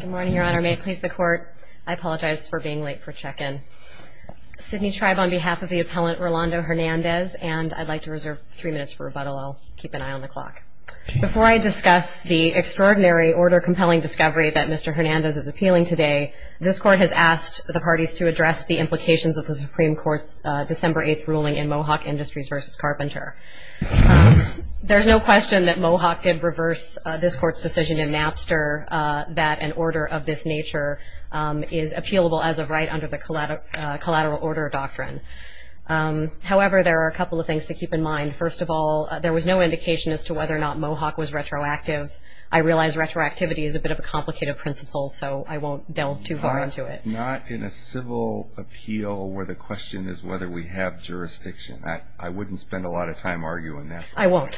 Good morning, Your Honor. May it please the Court, I apologize for being late for check-in. Sydney Tribe, on behalf of the appellant Rolando Hernandez, and I'd like to reserve three minutes for rebuttal. I'll keep an eye on the clock. Before I discuss the extraordinary, order-compelling discovery that Mr. Hernandez is appealing today, this Court has asked the parties to address the implications of the Supreme Court's December 8th ruling in Mohawk Industries v. Carpenter. There's no question that Mohawk did reverse this Court's decision in Napster that an order of this nature is appealable as of right under the Collateral Order Doctrine. However, there are a couple of things to keep in mind. First of all, there was no indication as to whether or not Mohawk was retroactive. I realize retroactivity is a bit of a complicated principle, so I won't delve too far into it. If not in a civil appeal where the question is whether we have jurisdiction, I wouldn't spend a lot of time arguing that. I won't.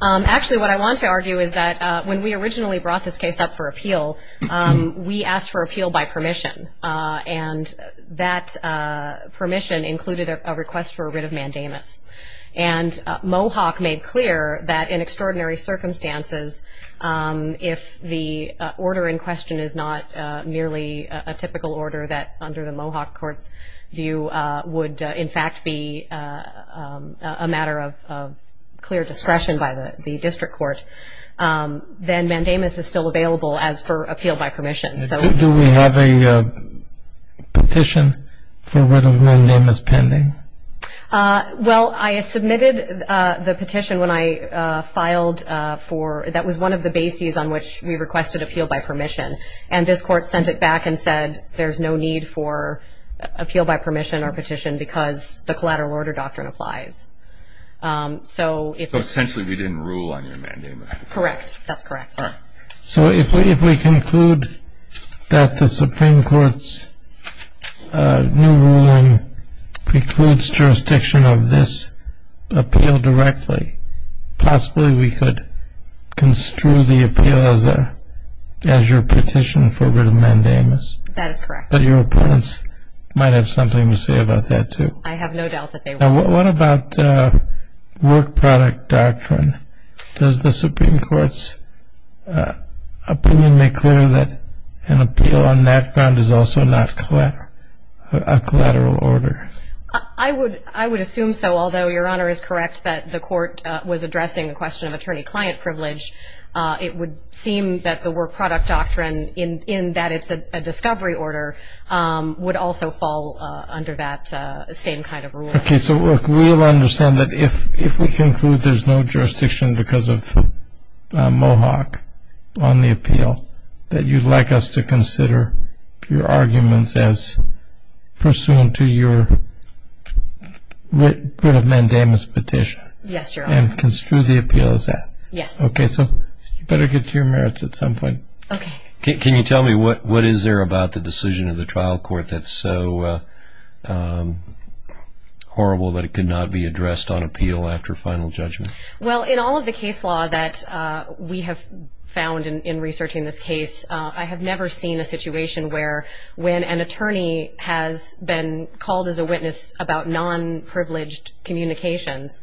Actually, what I want to argue is that when we originally brought this case up for appeal, we asked for appeal by permission. And that permission included a request for a writ of mandamus. And Mohawk made clear that in extraordinary circumstances, if the order in question is not merely a typical order that, under the Mohawk Court's view, would in fact be a matter of clear discretion by the district court, then mandamus is still available as for appeal by permission. Do we have a petition for a writ of mandamus pending? Well, I submitted the petition when I filed for – that was one of the bases on which we requested appeal by permission. And this Court sent it back and said there's no need for appeal by permission or petition because the Collateral Order Doctrine applies. So essentially, we didn't rule on your mandamus. Correct. That's correct. So if we conclude that the Supreme Court's new ruling precludes jurisdiction of this appeal directly, possibly we could construe the appeal as your petition for a writ of mandamus. That is correct. But your opponents might have something to say about that, too. I have no doubt that they will. Now, what about Work Product Doctrine? Does the Supreme Court's opinion make clear that an appeal on that ground is also not a collateral order? I would assume so, although Your Honor is correct that the Court was addressing the question of attorney-client privilege. It would seem that the Work Product Doctrine, in that it's a discovery order, would also fall under that same kind of rule. Okay, so we'll understand that if we conclude there's no jurisdiction because of Mohawk on the appeal, that you'd like us to consider your arguments as pursuant to your writ of mandamus petition. Yes, Your Honor. And construe the appeal as that. Yes. Okay, so you better get to your merits at some point. Okay. Can you tell me what is there about the decision of the trial court that's so horrible that it could not be addressed on appeal after final judgment? Well, in all of the case law that we have found in researching this case, I have never seen a situation where when an attorney has been called as a witness about non-privileged communications,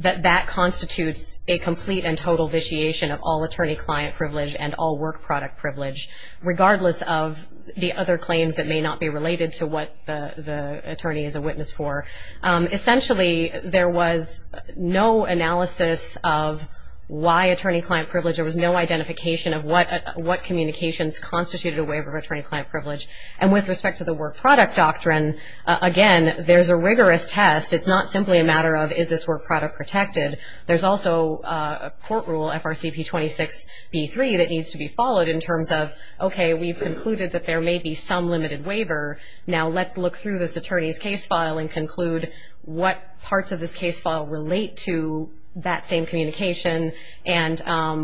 that that constitutes a complete and total vitiation of all attorney-client privilege and all work-product privilege, regardless of the other claims that may not be related to what the attorney is a witness for. Essentially, there was no analysis of why attorney-client privilege. There was no identification of what communications constituted a waiver of attorney-client privilege. And with respect to the Work Product Doctrine, again, there's a rigorous test. It's not simply a matter of is this work product protected. There's also a court rule, FRCP 26-B3, that needs to be followed in terms of, okay, we've concluded that there may be some limited waiver. Now let's look through this attorney's case file and conclude what parts of this case file relate to that same communication and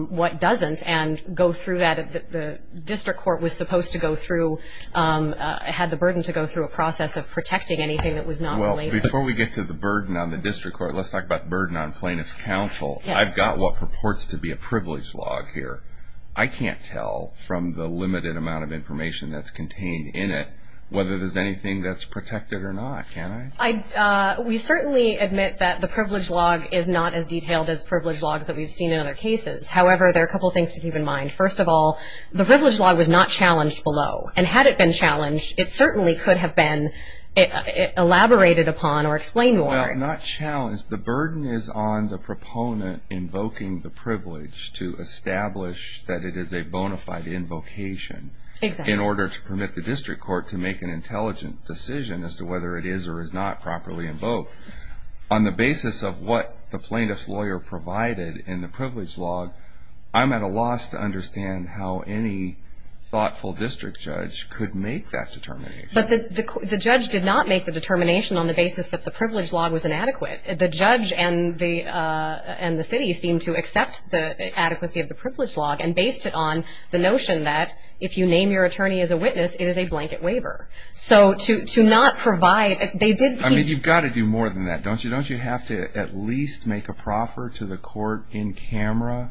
what doesn't, and go through that the district court was supposed to go through, had the burden to go through a process of protecting anything that was not related. Before we get to the burden on the district court, let's talk about the burden on plaintiff's counsel. I've got what purports to be a privilege log here. I can't tell from the limited amount of information that's contained in it whether there's anything that's protected or not, can I? We certainly admit that the privilege log is not as detailed as privilege logs that we've seen in other cases. However, there are a couple of things to keep in mind. First of all, the privilege log was not challenged below. And had it been challenged, it certainly could have been elaborated upon or explained more. Well, not challenged, the burden is on the proponent invoking the privilege to establish that it is a bona fide invocation in order to permit the district court to make an intelligent decision as to whether it is or is not properly invoked. On the basis of what the plaintiff's lawyer provided in the privilege log, I'm at a loss to understand how any thoughtful district judge could make that determination. But the judge did not make the determination on the basis that the privilege log was inadequate. The judge and the city seemed to accept the adequacy of the privilege log and based it on the notion that if you name your attorney as a witness, it is a blanket waiver. So to not provide, they did keep I mean, you've got to do more than that, don't you? You have to at least make a proffer to the court in camera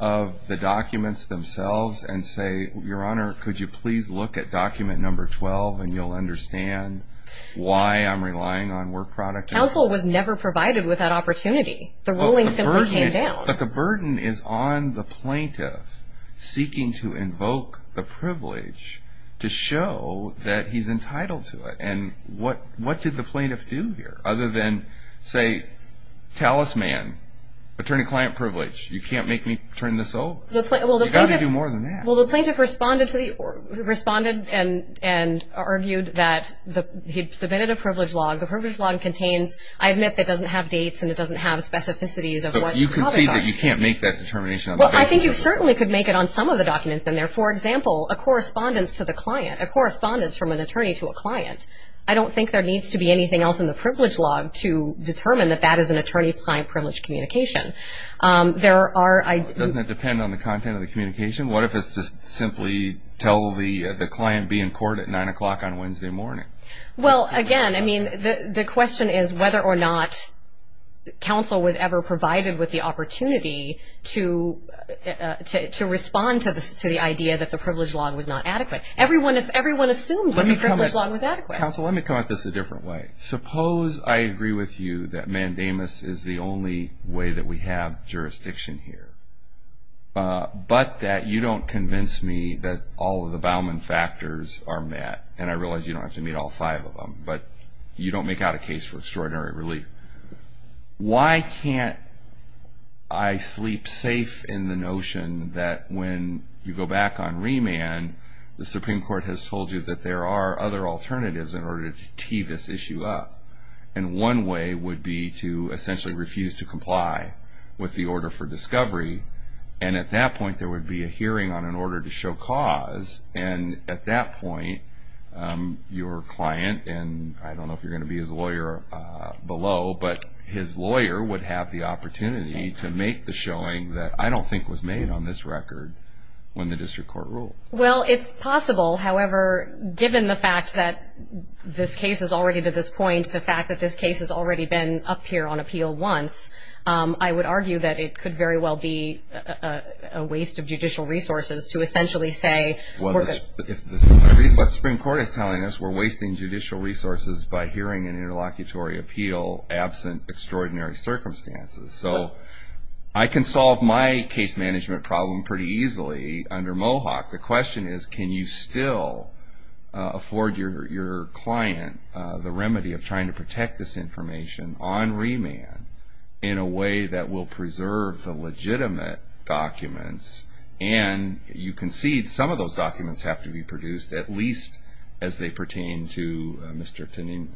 of the documents themselves and say, your honor, could you please look at document number 12 and you'll understand why I'm relying on work product. Counsel was never provided with that opportunity. The ruling simply came down. But the burden is on the plaintiff seeking to invoke the privilege to show that he's entitled to it. And what did the plaintiff do here? Other than say, talisman, attorney-client privilege, you can't make me turn this over. You've got to do more than that. Well, the plaintiff responded and argued that he'd submitted a privilege log. The privilege log contains, I admit that it doesn't have dates and it doesn't have specificities of what copies are. So you can see that you can't make that determination on the basis of that. Well, I think you certainly could make it on some of the documents in there. For example, a correspondence to the client, a correspondence from an attorney to a client. I don't think there needs to be anything else in the privilege log to determine that that is an attorney-client privilege communication. Doesn't it depend on the content of the communication? What if it's just simply tell the client be in court at 9 o'clock on Wednesday morning? Well, again, the question is whether or not counsel was ever provided with the opportunity to respond to the idea that the privilege log was not adequate. Everyone assumes that the privilege log was adequate. Counsel, let me come at this a different way. Suppose I agree with you that mandamus is the only way that we have jurisdiction here, but that you don't convince me that all of the Bauman factors are met, and I realize you don't have to meet all five of them, but you don't make out a case for extraordinary relief. Why can't I sleep safe in the notion that when you go back on remand, the Supreme Court has told you that there are other alternatives in order to tee this issue up, and one way would be to essentially refuse to comply with the order for discovery, and at that point there would be a hearing on an order to show cause, and at that point your client, and I don't know if you're going to be his lawyer below, but his lawyer would have the opportunity to make the showing that I don't think was made on this record when the district court ruled. Well, it's possible. However, given the fact that this case is already to this point, the fact that this case has already been up here on appeal once, I would argue that it could very well be a waste of judicial resources to essentially say, what the Supreme Court is telling us, we're wasting judicial resources by hearing an interlocutory appeal absent extraordinary circumstances. So I can solve my case management problem pretty easily under Mohawk. The question is can you still afford your client the remedy of trying to protect this information on remand in a way that will preserve the legitimate documents, and you concede some of those documents have to be produced at least as they pertain to Mr. Tanim.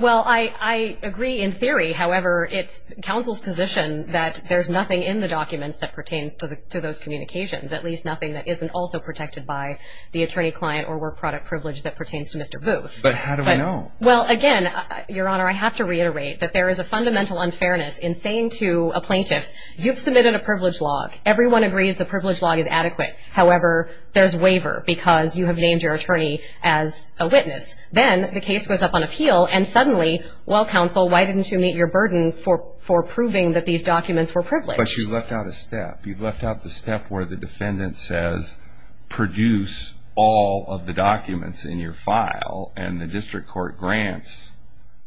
Well, I agree in theory. However, it's counsel's position that there's nothing in the documents that pertains to those communications, at least nothing that isn't also protected by the attorney client or work product privilege that pertains to Mr. Booth. But how do we know? Well, again, Your Honor, I have to reiterate that there is a fundamental unfairness in saying to a plaintiff, you've submitted a privilege log. Everyone agrees the privilege log is adequate. However, there's waiver because you have named your attorney as a witness. Then the case goes up on appeal, and suddenly, well, counsel, why didn't you meet your burden for proving that these documents were privileged? But you've left out a step. You've left out the step where the defendant says produce all of the documents in your file, and the district court grants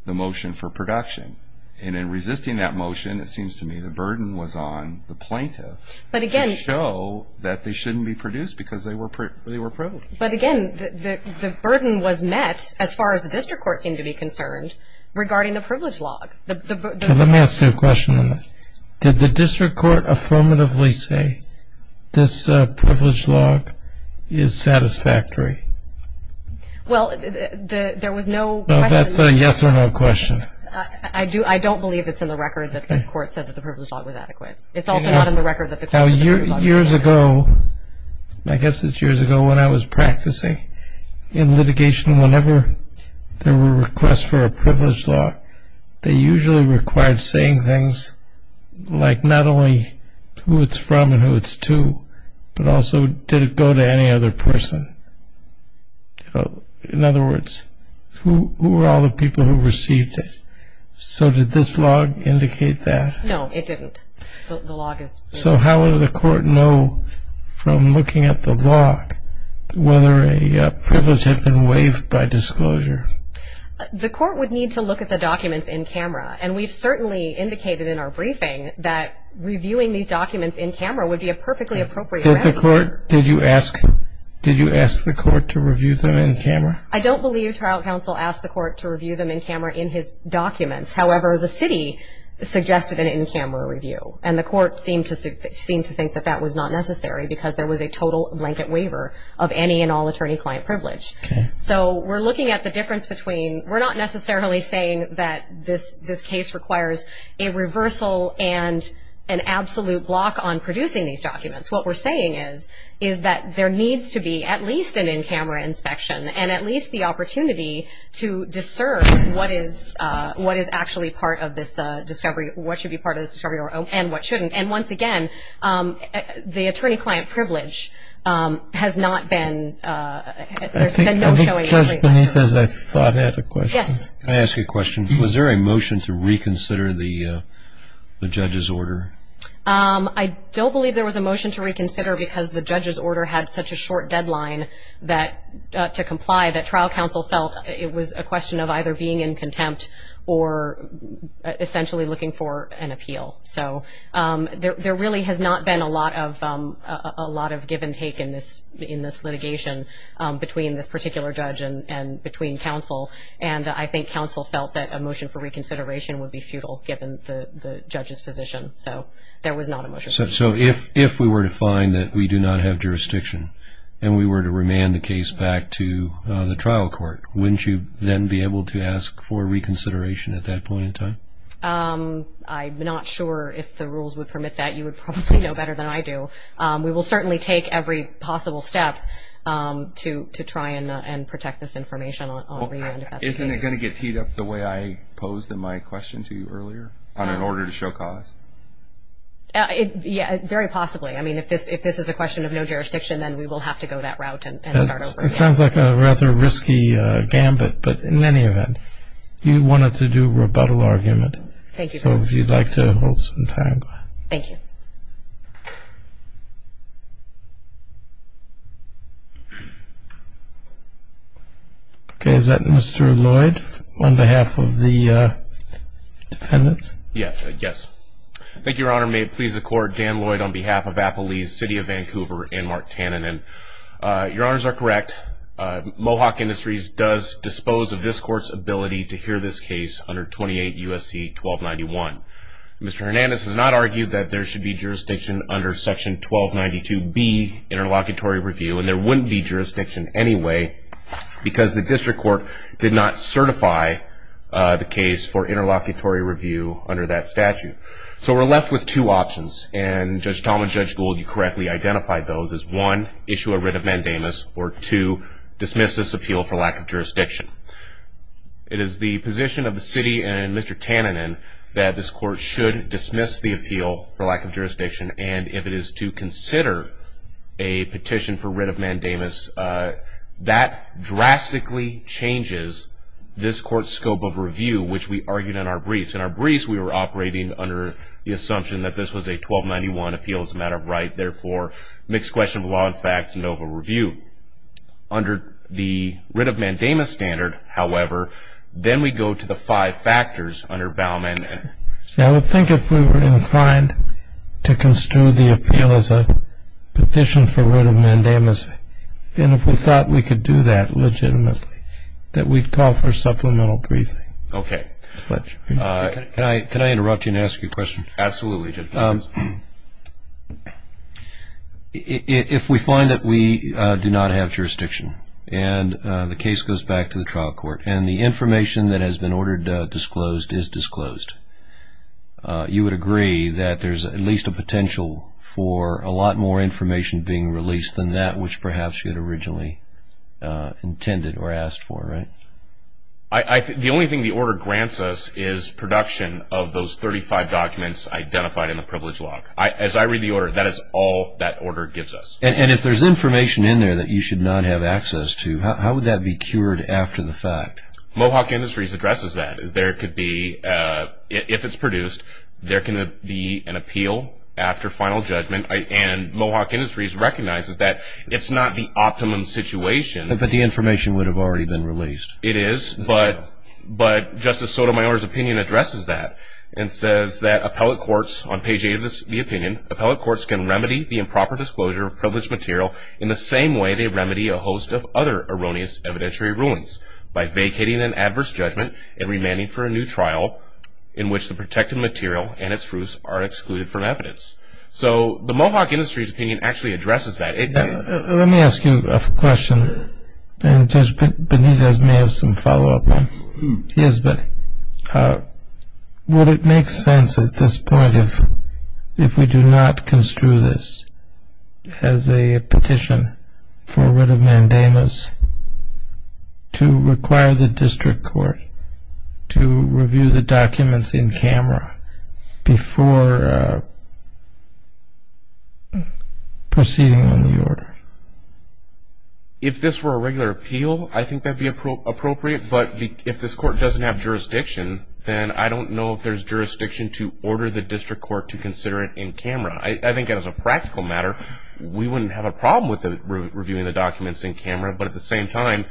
the motion for production. And in resisting that motion, it seems to me the burden was on the plaintiff. But again. To show that they shouldn't be produced because they were privileged. But again, the burden was met, as far as the district court seemed to be concerned, regarding the privilege log. Let me ask you a question. Did the district court affirmatively say this privilege log is satisfactory? Well, there was no question. It's a yes or no question. I don't believe it's in the record that the court said that the privilege log was adequate. It's also not in the record that the court said the privilege log was adequate. Years ago, I guess it's years ago, when I was practicing in litigation, whenever there were requests for a privilege log, they usually required saying things like not only who it's from and who it's to, but also did it go to any other person? In other words, who were all the people who received it? So did this log indicate that? No, it didn't. The log is. So how would the court know from looking at the log whether a privilege had been waived by disclosure? The court would need to look at the documents in camera. And we've certainly indicated in our briefing that reviewing these documents in camera would be a perfectly appropriate. Did you ask the court to review them in camera? I don't believe trial counsel asked the court to review them in camera in his documents. However, the city suggested an in-camera review. And the court seemed to think that that was not necessary because there was a total blanket waiver of any and all attorney-client privilege. Okay. So we're looking at the difference between we're not necessarily saying that this case requires a reversal and an absolute block on producing these documents. What we're saying is, is that there needs to be at least an in-camera inspection and at least the opportunity to discern what is actually part of this discovery, what should be part of this discovery, and what shouldn't. And once again, the attorney-client privilege has not been, there's been no showing. I have a question. I thought I had a question. Yes. Can I ask you a question? Was there a motion to reconsider the judge's order? I don't believe there was a motion to reconsider because the judge's order had such a short deadline to comply that trial counsel felt it was a question of either being in contempt or essentially looking for an appeal. So there really has not been a lot of give and take in this litigation between this particular judge and between counsel. And I think counsel felt that a motion for reconsideration would be futile given the judge's position. So there was not a motion. So if we were to find that we do not have jurisdiction and we were to remand the case back to the trial court, wouldn't you then be able to ask for reconsideration at that point in time? I'm not sure if the rules would permit that. You would probably know better than I do. We will certainly take every possible step to try and protect this information on remand if that's the case. Isn't it going to get teed up the way I posed in my question to you earlier, on an order to show cause? Very possibly. I mean, if this is a question of no jurisdiction, then we will have to go that route and start over. It sounds like a rather risky gambit, but in any event, you wanted to do rebuttal argument. Thank you. So if you'd like to hold some time. Thank you. Okay, is that Mr. Lloyd on behalf of the defendants? Thank you, Your Honor. May it please the Court, Dan Lloyd on behalf of Appalese City of Vancouver and Mark Tannin. Your Honors are correct. Mohawk Industries does dispose of this Court's ability to hear this case under 28 U.S.C. 1291. Mr. Hernandez has not argued that there should be jurisdiction under Section 1292B, Interlocutory Review, and there wouldn't be jurisdiction anyway because the District Court did not certify the case for Interlocutory Review under that statute. So we're left with two options, and Judge Talmadge, Judge Gould, you correctly identified those as, one, issue a writ of mandamus, or two, dismiss this appeal for lack of jurisdiction. It is the position of the City and Mr. Tannin that this Court should dismiss the appeal for lack of jurisdiction, and if it is to consider a petition for writ of mandamus, that drastically changes this Court's scope of review, which we argued in our briefs. In our briefs, we were operating under the assumption that this was a 1291 appeal as a matter of right, therefore, mixed question of law and fact, and over review. Under the writ of mandamus standard, however, then we go to the five factors under Balmain. I would think if we were inclined to construe the appeal as a petition for writ of mandamus, and if we thought we could do that legitimately, that we'd call for supplemental briefing. Okay. Can I interrupt you and ask you a question? Absolutely, Judge Talmadge. If we find that we do not have jurisdiction and the case goes back to the trial court and the information that has been ordered disclosed is disclosed, you would agree that there's at least a potential for a lot more information being released than that, which perhaps you had originally intended or asked for, right? The only thing the order grants us is production of those 35 documents identified in the privilege log. As I read the order, that is all that order gives us. And if there's information in there that you should not have access to, how would that be cured after the fact? Mohawk Industries addresses that. If it's produced, there can be an appeal after final judgment, and Mohawk Industries recognizes that it's not the optimum situation. But the information would have already been released. It is, but Justice Sotomayor's opinion addresses that and says that appellate courts, on page 8 of the opinion, appellate courts can remedy the improper disclosure of privileged material in the same way they remedy a host of other erroneous evidentiary rulings, by vacating an adverse judgment and remanding for a new trial in which the protected material and its fruits are excluded from evidence. So the Mohawk Industries opinion actually addresses that. Let me ask you a question, and Judge Benitez may have some follow-up on. Yes, buddy. Would it make sense at this point, if we do not construe this as a petition for writ of mandamus, to require the district court to review the documents in camera before proceeding on the order? If this were a regular appeal, I think that would be appropriate. But if this court doesn't have jurisdiction, then I don't know if there's jurisdiction to order the district court to consider it in camera. I think as a practical matter, we wouldn't have a problem with reviewing the documents in camera, but at the same time,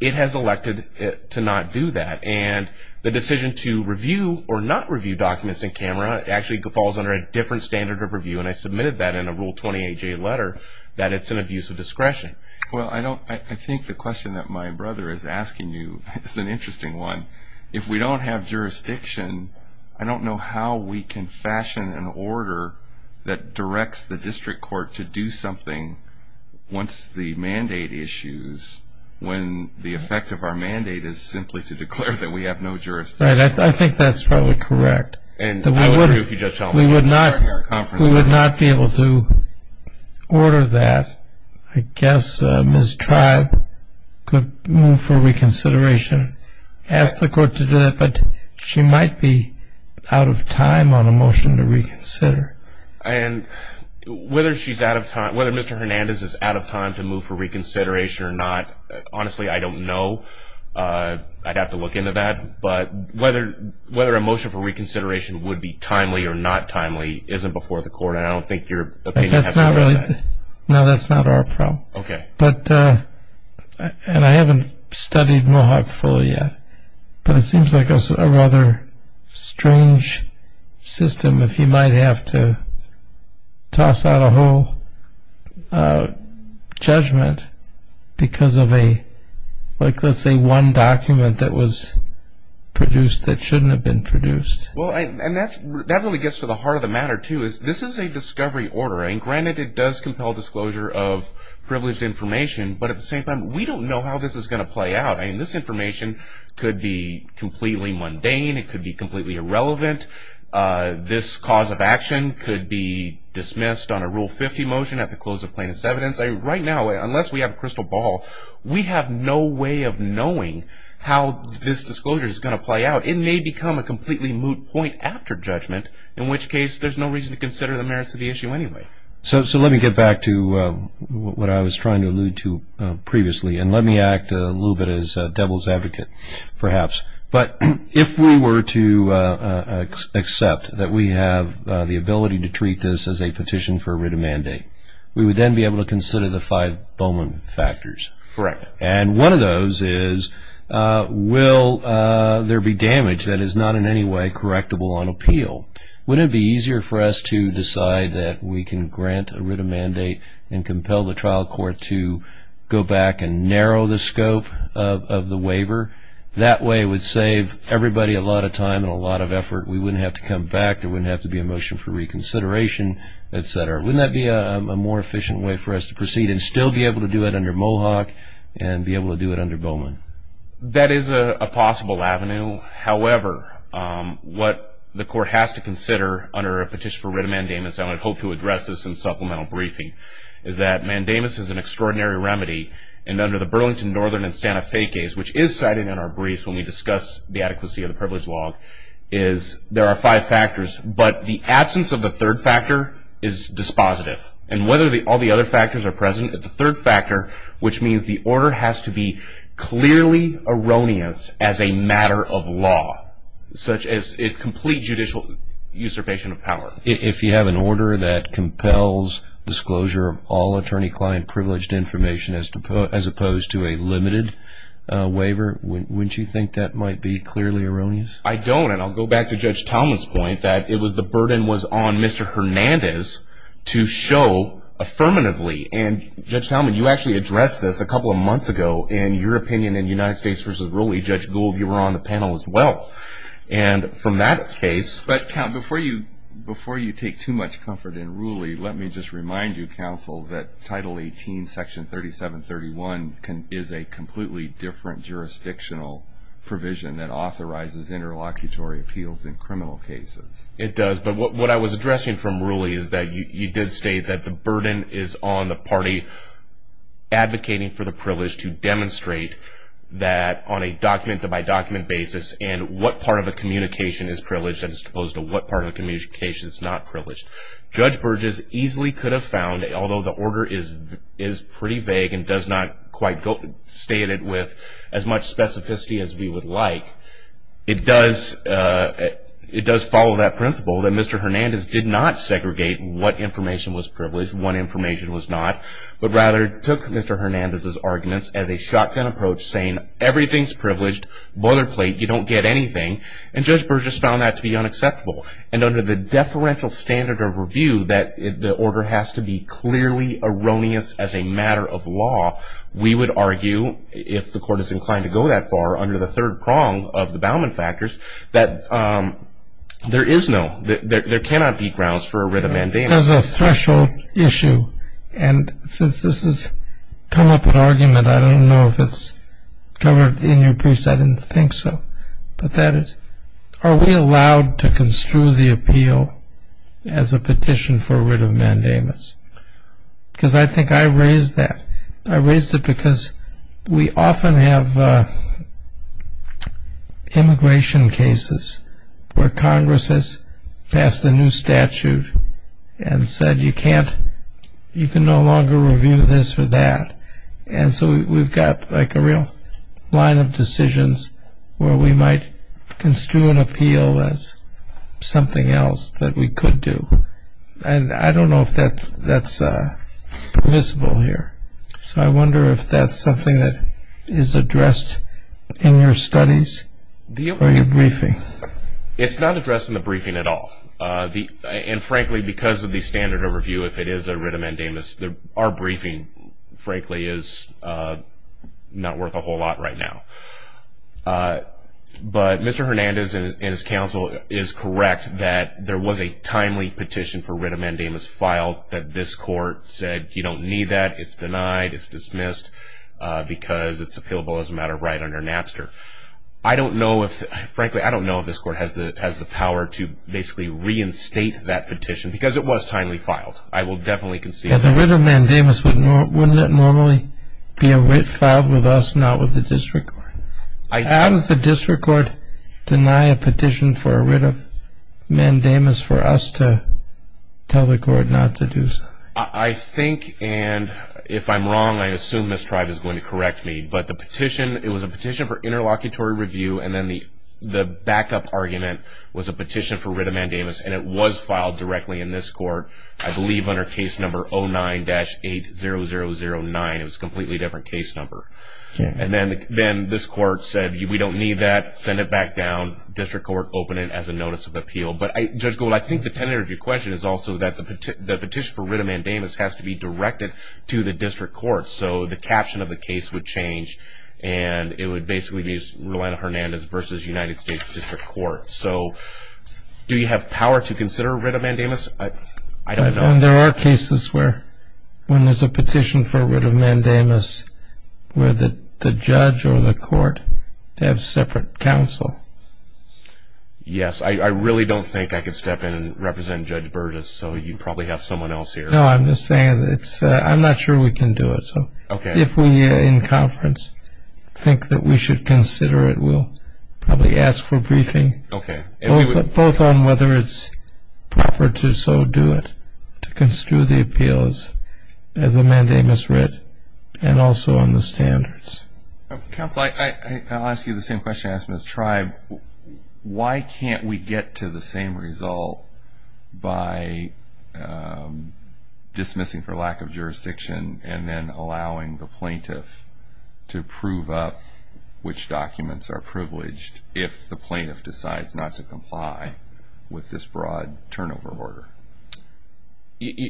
it has elected to not do that. And the decision to review or not review documents in camera actually falls under a different standard of review, and I submitted that in a Rule 28J letter, that it's an abuse of discretion. Well, I think the question that my brother is asking you is an interesting one. If we don't have jurisdiction, I don't know how we can fashion an order that directs the district court to do something once the mandate issues, when the effect of our mandate is simply to declare that we have no jurisdiction. Right, I think that's probably correct. And I would agree with you, Judge Talmadge. We would not be able to order that. I guess Ms. Tribe could move for reconsideration, ask the court to do that, but she might be out of time on a motion to reconsider. And whether Mr. Hernandez is out of time to move for reconsideration or not, honestly, I don't know. I'd have to look into that. But whether a motion for reconsideration would be timely or not timely isn't before the court, and I don't think your opinion has to do with that. No, that's not our problem. Okay. But, and I haven't studied Mohawk fully yet, but it seems like a rather strange system if you might have to toss out a whole judgment because of a, like let's say one document that was produced that shouldn't have been produced. Well, and that really gets to the heart of the matter, too, is this is a discovery order, and granted it does compel disclosure of privileged information, but at the same time we don't know how this is going to play out. I mean this information could be completely mundane. It could be completely irrelevant. This cause of action could be dismissed on a Rule 50 motion at the close of plaintiff's evidence. Right now, unless we have a crystal ball, we have no way of knowing how this disclosure is going to play out. It may become a completely moot point after judgment, in which case there's no reason to consider the merits of the issue anyway. So let me get back to what I was trying to allude to previously, and let me act a little bit as devil's advocate perhaps. But if we were to accept that we have the ability to treat this as a petition for writ of mandate, we would then be able to consider the five Bowman factors. Correct. And one of those is will there be damage that is not in any way correctable on appeal? Wouldn't it be easier for us to decide that we can grant a writ of mandate and compel the trial court to go back and narrow the scope of the waiver? That way it would save everybody a lot of time and a lot of effort. We wouldn't have to come back. There wouldn't have to be a motion for reconsideration, et cetera. Wouldn't that be a more efficient way for us to proceed and still be able to do it under Mohawk and be able to do it under Bowman? That is a possible avenue. However, what the court has to consider under a petition for writ of mandamus, and I hope to address this in supplemental briefing, is that mandamus is an extraordinary remedy. And under the Burlington Northern and Santa Fe case, which is cited in our briefs when we discuss the adequacy of the privilege law, there are five factors, but the absence of the third factor is dispositive. And whether all the other factors are present, the third factor, which means the order has to be clearly erroneous as a matter of law, such as a complete judicial usurpation of power. If you have an order that compels disclosure of all attorney-client privileged information as opposed to a limited waiver, wouldn't you think that might be clearly erroneous? I don't, and I'll go back to Judge Talmadge's point, that it was the burden was on Mr. Hernandez to show affirmatively. And, Judge Talmadge, you actually addressed this a couple of months ago in your opinion in United States v. Rooley. Judge Gould, you were on the panel as well. And from that case – But, Counsel, before you take too much comfort in Rooley, let me just remind you, Counsel, that Title 18, Section 3731, is a completely different jurisdictional provision that authorizes interlocutory appeals in criminal cases. It does. But what I was addressing from Rooley is that you did state that the burden is on the party advocating for the privilege to demonstrate that on a document-by-document basis and what part of the communication is privileged as opposed to what part of the communication is not privileged. Judge Burgess easily could have found, although the order is pretty vague and does not quite state it with as much specificity as we would like, it does follow that principle that Mr. Hernandez did not segregate what information was privileged, what information was not, but rather took Mr. Hernandez's arguments as a shotgun approach, saying everything's privileged, boilerplate, you don't get anything, and Judge Burgess found that to be unacceptable. And under the deferential standard of review, that the order has to be clearly erroneous as a matter of law, we would argue, if the Court is inclined to go that far, under the third prong of the Bauman factors, that there is no, there cannot be grounds for a writ of mandamus. There's a threshold issue, and since this has come up in argument, I don't know if it's covered in your briefs. I didn't think so. But that is, are we allowed to construe the appeal as a petition for a writ of mandamus? Because I think I raised that. I raised it because we often have immigration cases where Congress has passed a new statute and said, you can no longer review this or that. And so we've got like a real line of decisions where we might construe an appeal as something else that we could do. And I don't know if that's permissible here. So I wonder if that's something that is addressed in your studies or your briefing. It's not addressed in the briefing at all. And frankly, because of the standard of review, if it is a writ of mandamus, our briefing, frankly, is not worth a whole lot right now. But Mr. Hernandez and his counsel is correct that there was a timely petition for writ of mandamus filed that this court said you don't need that, it's denied, it's dismissed, because it's appealable as a matter of right under Napster. I don't know if, frankly, I don't know if this court has the power to basically reinstate that petition, because it was timely filed. I will definitely concede that. But the writ of mandamus, wouldn't it normally be a writ filed with us, not with the district court? How does the district court deny a petition for a writ of mandamus for us to tell the court not to do so? I think, and if I'm wrong, I assume Ms. Tribe is going to correct me, but the petition, it was a petition for interlocutory review, and then the backup argument was a petition for writ of mandamus, and it was filed directly in this court, I believe under case number 09-8009. It was a completely different case number. And then this court said we don't need that, send it back down, district court open it as a notice of appeal. But, Judge Gold, I think the tenor of your question is also that the petition for writ of mandamus has to be directed to the district court. So the caption of the case would change, and it would basically be Rolando Hernandez versus United States District Court. So do you have power to consider a writ of mandamus? I don't know. There are cases where, when there's a petition for a writ of mandamus, where the judge or the court have separate counsel. Yes, I really don't think I could step in and represent Judge Burgess, so you probably have someone else here. No, I'm just saying, I'm not sure we can do it. If we, in conference, think that we should consider it, we'll probably ask for briefing. Okay. Both on whether it's proper to so do it, to construe the appeals as a mandamus writ, and also on the standards. Counsel, I'll ask you the same question I asked Ms. Tribe. Why can't we get to the same result by dismissing for lack of jurisdiction and then allowing the plaintiff to prove up which documents are privileged if the plaintiff decides not to comply with this broad turnover order?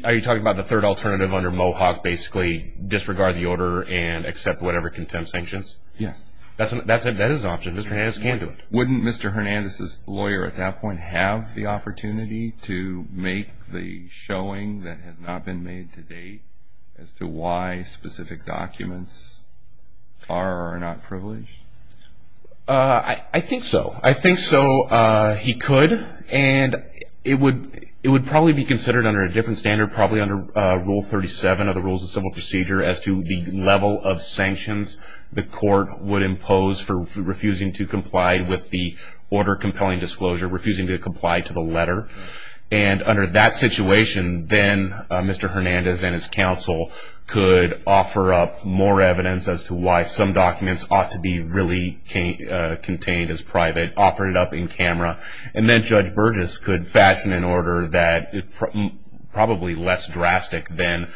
Are you talking about the third alternative under Mohawk, basically disregard the order and accept whatever contempt sanctions? Yes. That is an option. Mr. Hernandez can do it. Wouldn't Mr. Hernandez's lawyer at that point have the opportunity to make the showing that has not been made to date as to why specific documents are or are not privileged? I think so. I think so he could, and it would probably be considered under a different standard, probably under Rule 37 of the Rules of Civil Procedure as to the level of sanctions the court would impose for refusing to comply with the order compelling disclosure, refusing to comply to the letter. And under that situation, then Mr. Hernandez and his counsel could offer up more evidence as to why some documents ought to be really contained as private, offer it up in camera. And then Judge Burgess could fasten an order that is probably less drastic than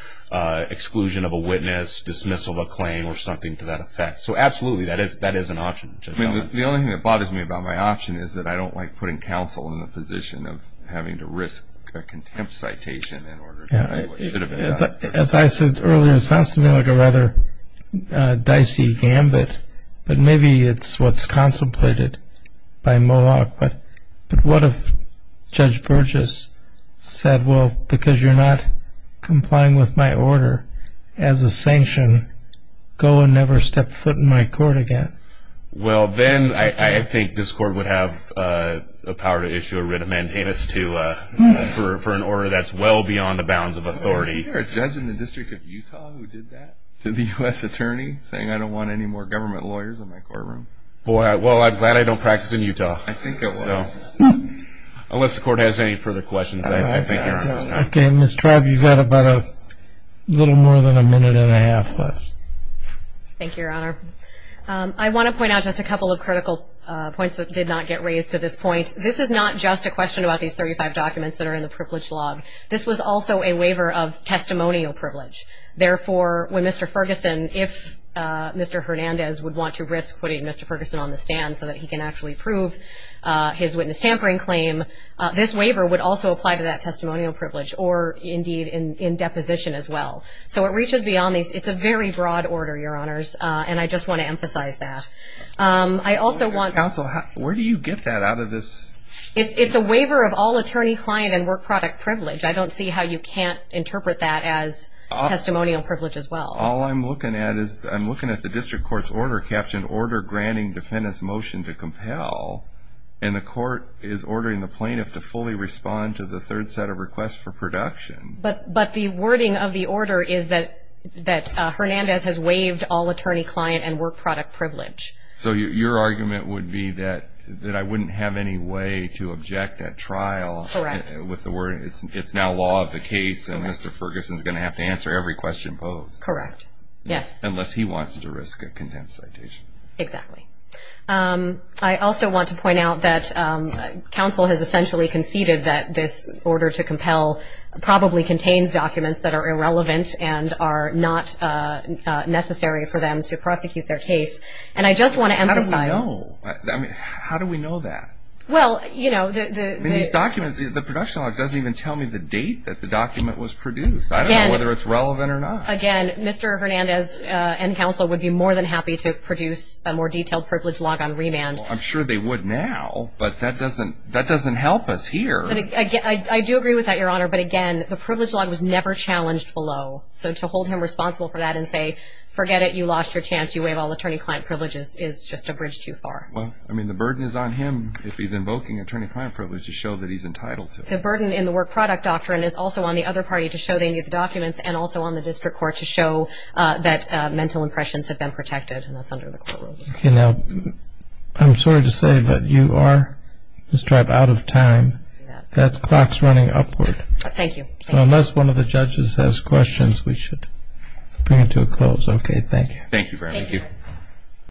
exclusion of a witness, dismissal of a claim, or something to that effect. So absolutely, that is an option. The only thing that bothers me about my option is that I don't like putting counsel in the position of having to risk a contempt citation in order to do what should have been done. As I said earlier, it sounds to me like a rather dicey gambit, but maybe it's what's contemplated by Moloch. But what if Judge Burgess said, well, because you're not complying with my order as a sanction, go and never step foot in my court again? Well, then I think this court would have the power to issue a writ of mandamus for an order that's well beyond the bounds of authority. Was there a judge in the District of Utah who did that to the U.S. attorney, saying I don't want any more government lawyers in my courtroom? Boy, well, I'm glad I don't practice in Utah. I think I will. Unless the court has any further questions, I think you're on. Okay, Ms. Traub, you've got about a little more than a minute and a half left. Thank you, Your Honor. I want to point out just a couple of critical points that did not get raised to this point. This is not just a question about these 35 documents that are in the privilege log. This was also a waiver of testimonial privilege. Therefore, when Mr. Ferguson, if Mr. Hernandez would want to risk putting Mr. Ferguson on the stand so that he can actually prove his witness tampering claim, this waiver would also apply to that testimonial privilege or, indeed, in deposition as well. So it reaches beyond these. It's a very broad order, Your Honors, and I just want to emphasize that. Counsel, where do you get that out of this? It's a waiver of all attorney, client, and work product privilege. I don't see how you can't interpret that as testimonial privilege as well. All I'm looking at is I'm looking at the district court's order, Captain, order granting defendant's motion to compel, and the court is ordering the plaintiff to fully respond to the third set of requests for production. But the wording of the order is that Hernandez has waived all attorney, client, and work product privilege. So your argument would be that I wouldn't have any way to object at trial. Correct. With the word, it's now law of the case, and Mr. Ferguson is going to have to answer every question posed. Correct, yes. Unless he wants to risk a contempt citation. Exactly. I also want to point out that counsel has essentially conceded that this order to compel probably contains documents that are irrelevant and are not necessary for them to prosecute their case. And I just want to emphasize. How do we know? I mean, how do we know that? Well, you know, the... These documents, the production doesn't even tell me the date that the document was produced. Again. I don't know whether it's relevant or not. Again, Mr. Hernandez and counsel would be more than happy to produce a more detailed privilege log on remand. I'm sure they would now, but that doesn't help us here. I do agree with that, Your Honor, but again, the privilege log was never challenged below. So to hold him responsible for that and say, forget it, you lost your chance, you waive all attorney-client privileges is just a bridge too far. Well, I mean, the burden is on him if he's invoking attorney-client privileges to show that he's entitled to it. The burden in the work product doctrine is also on the other party to show they need the documents and also on the district court to show that mental impressions have been protected, and that's under the court rules. Okay. Now, I'm sorry to say, but you are, Ms. Tribe, out of time. That clock's running upward. Thank you. So unless one of the judges has questions, we should bring it to a close. Okay, thank you. Thank you.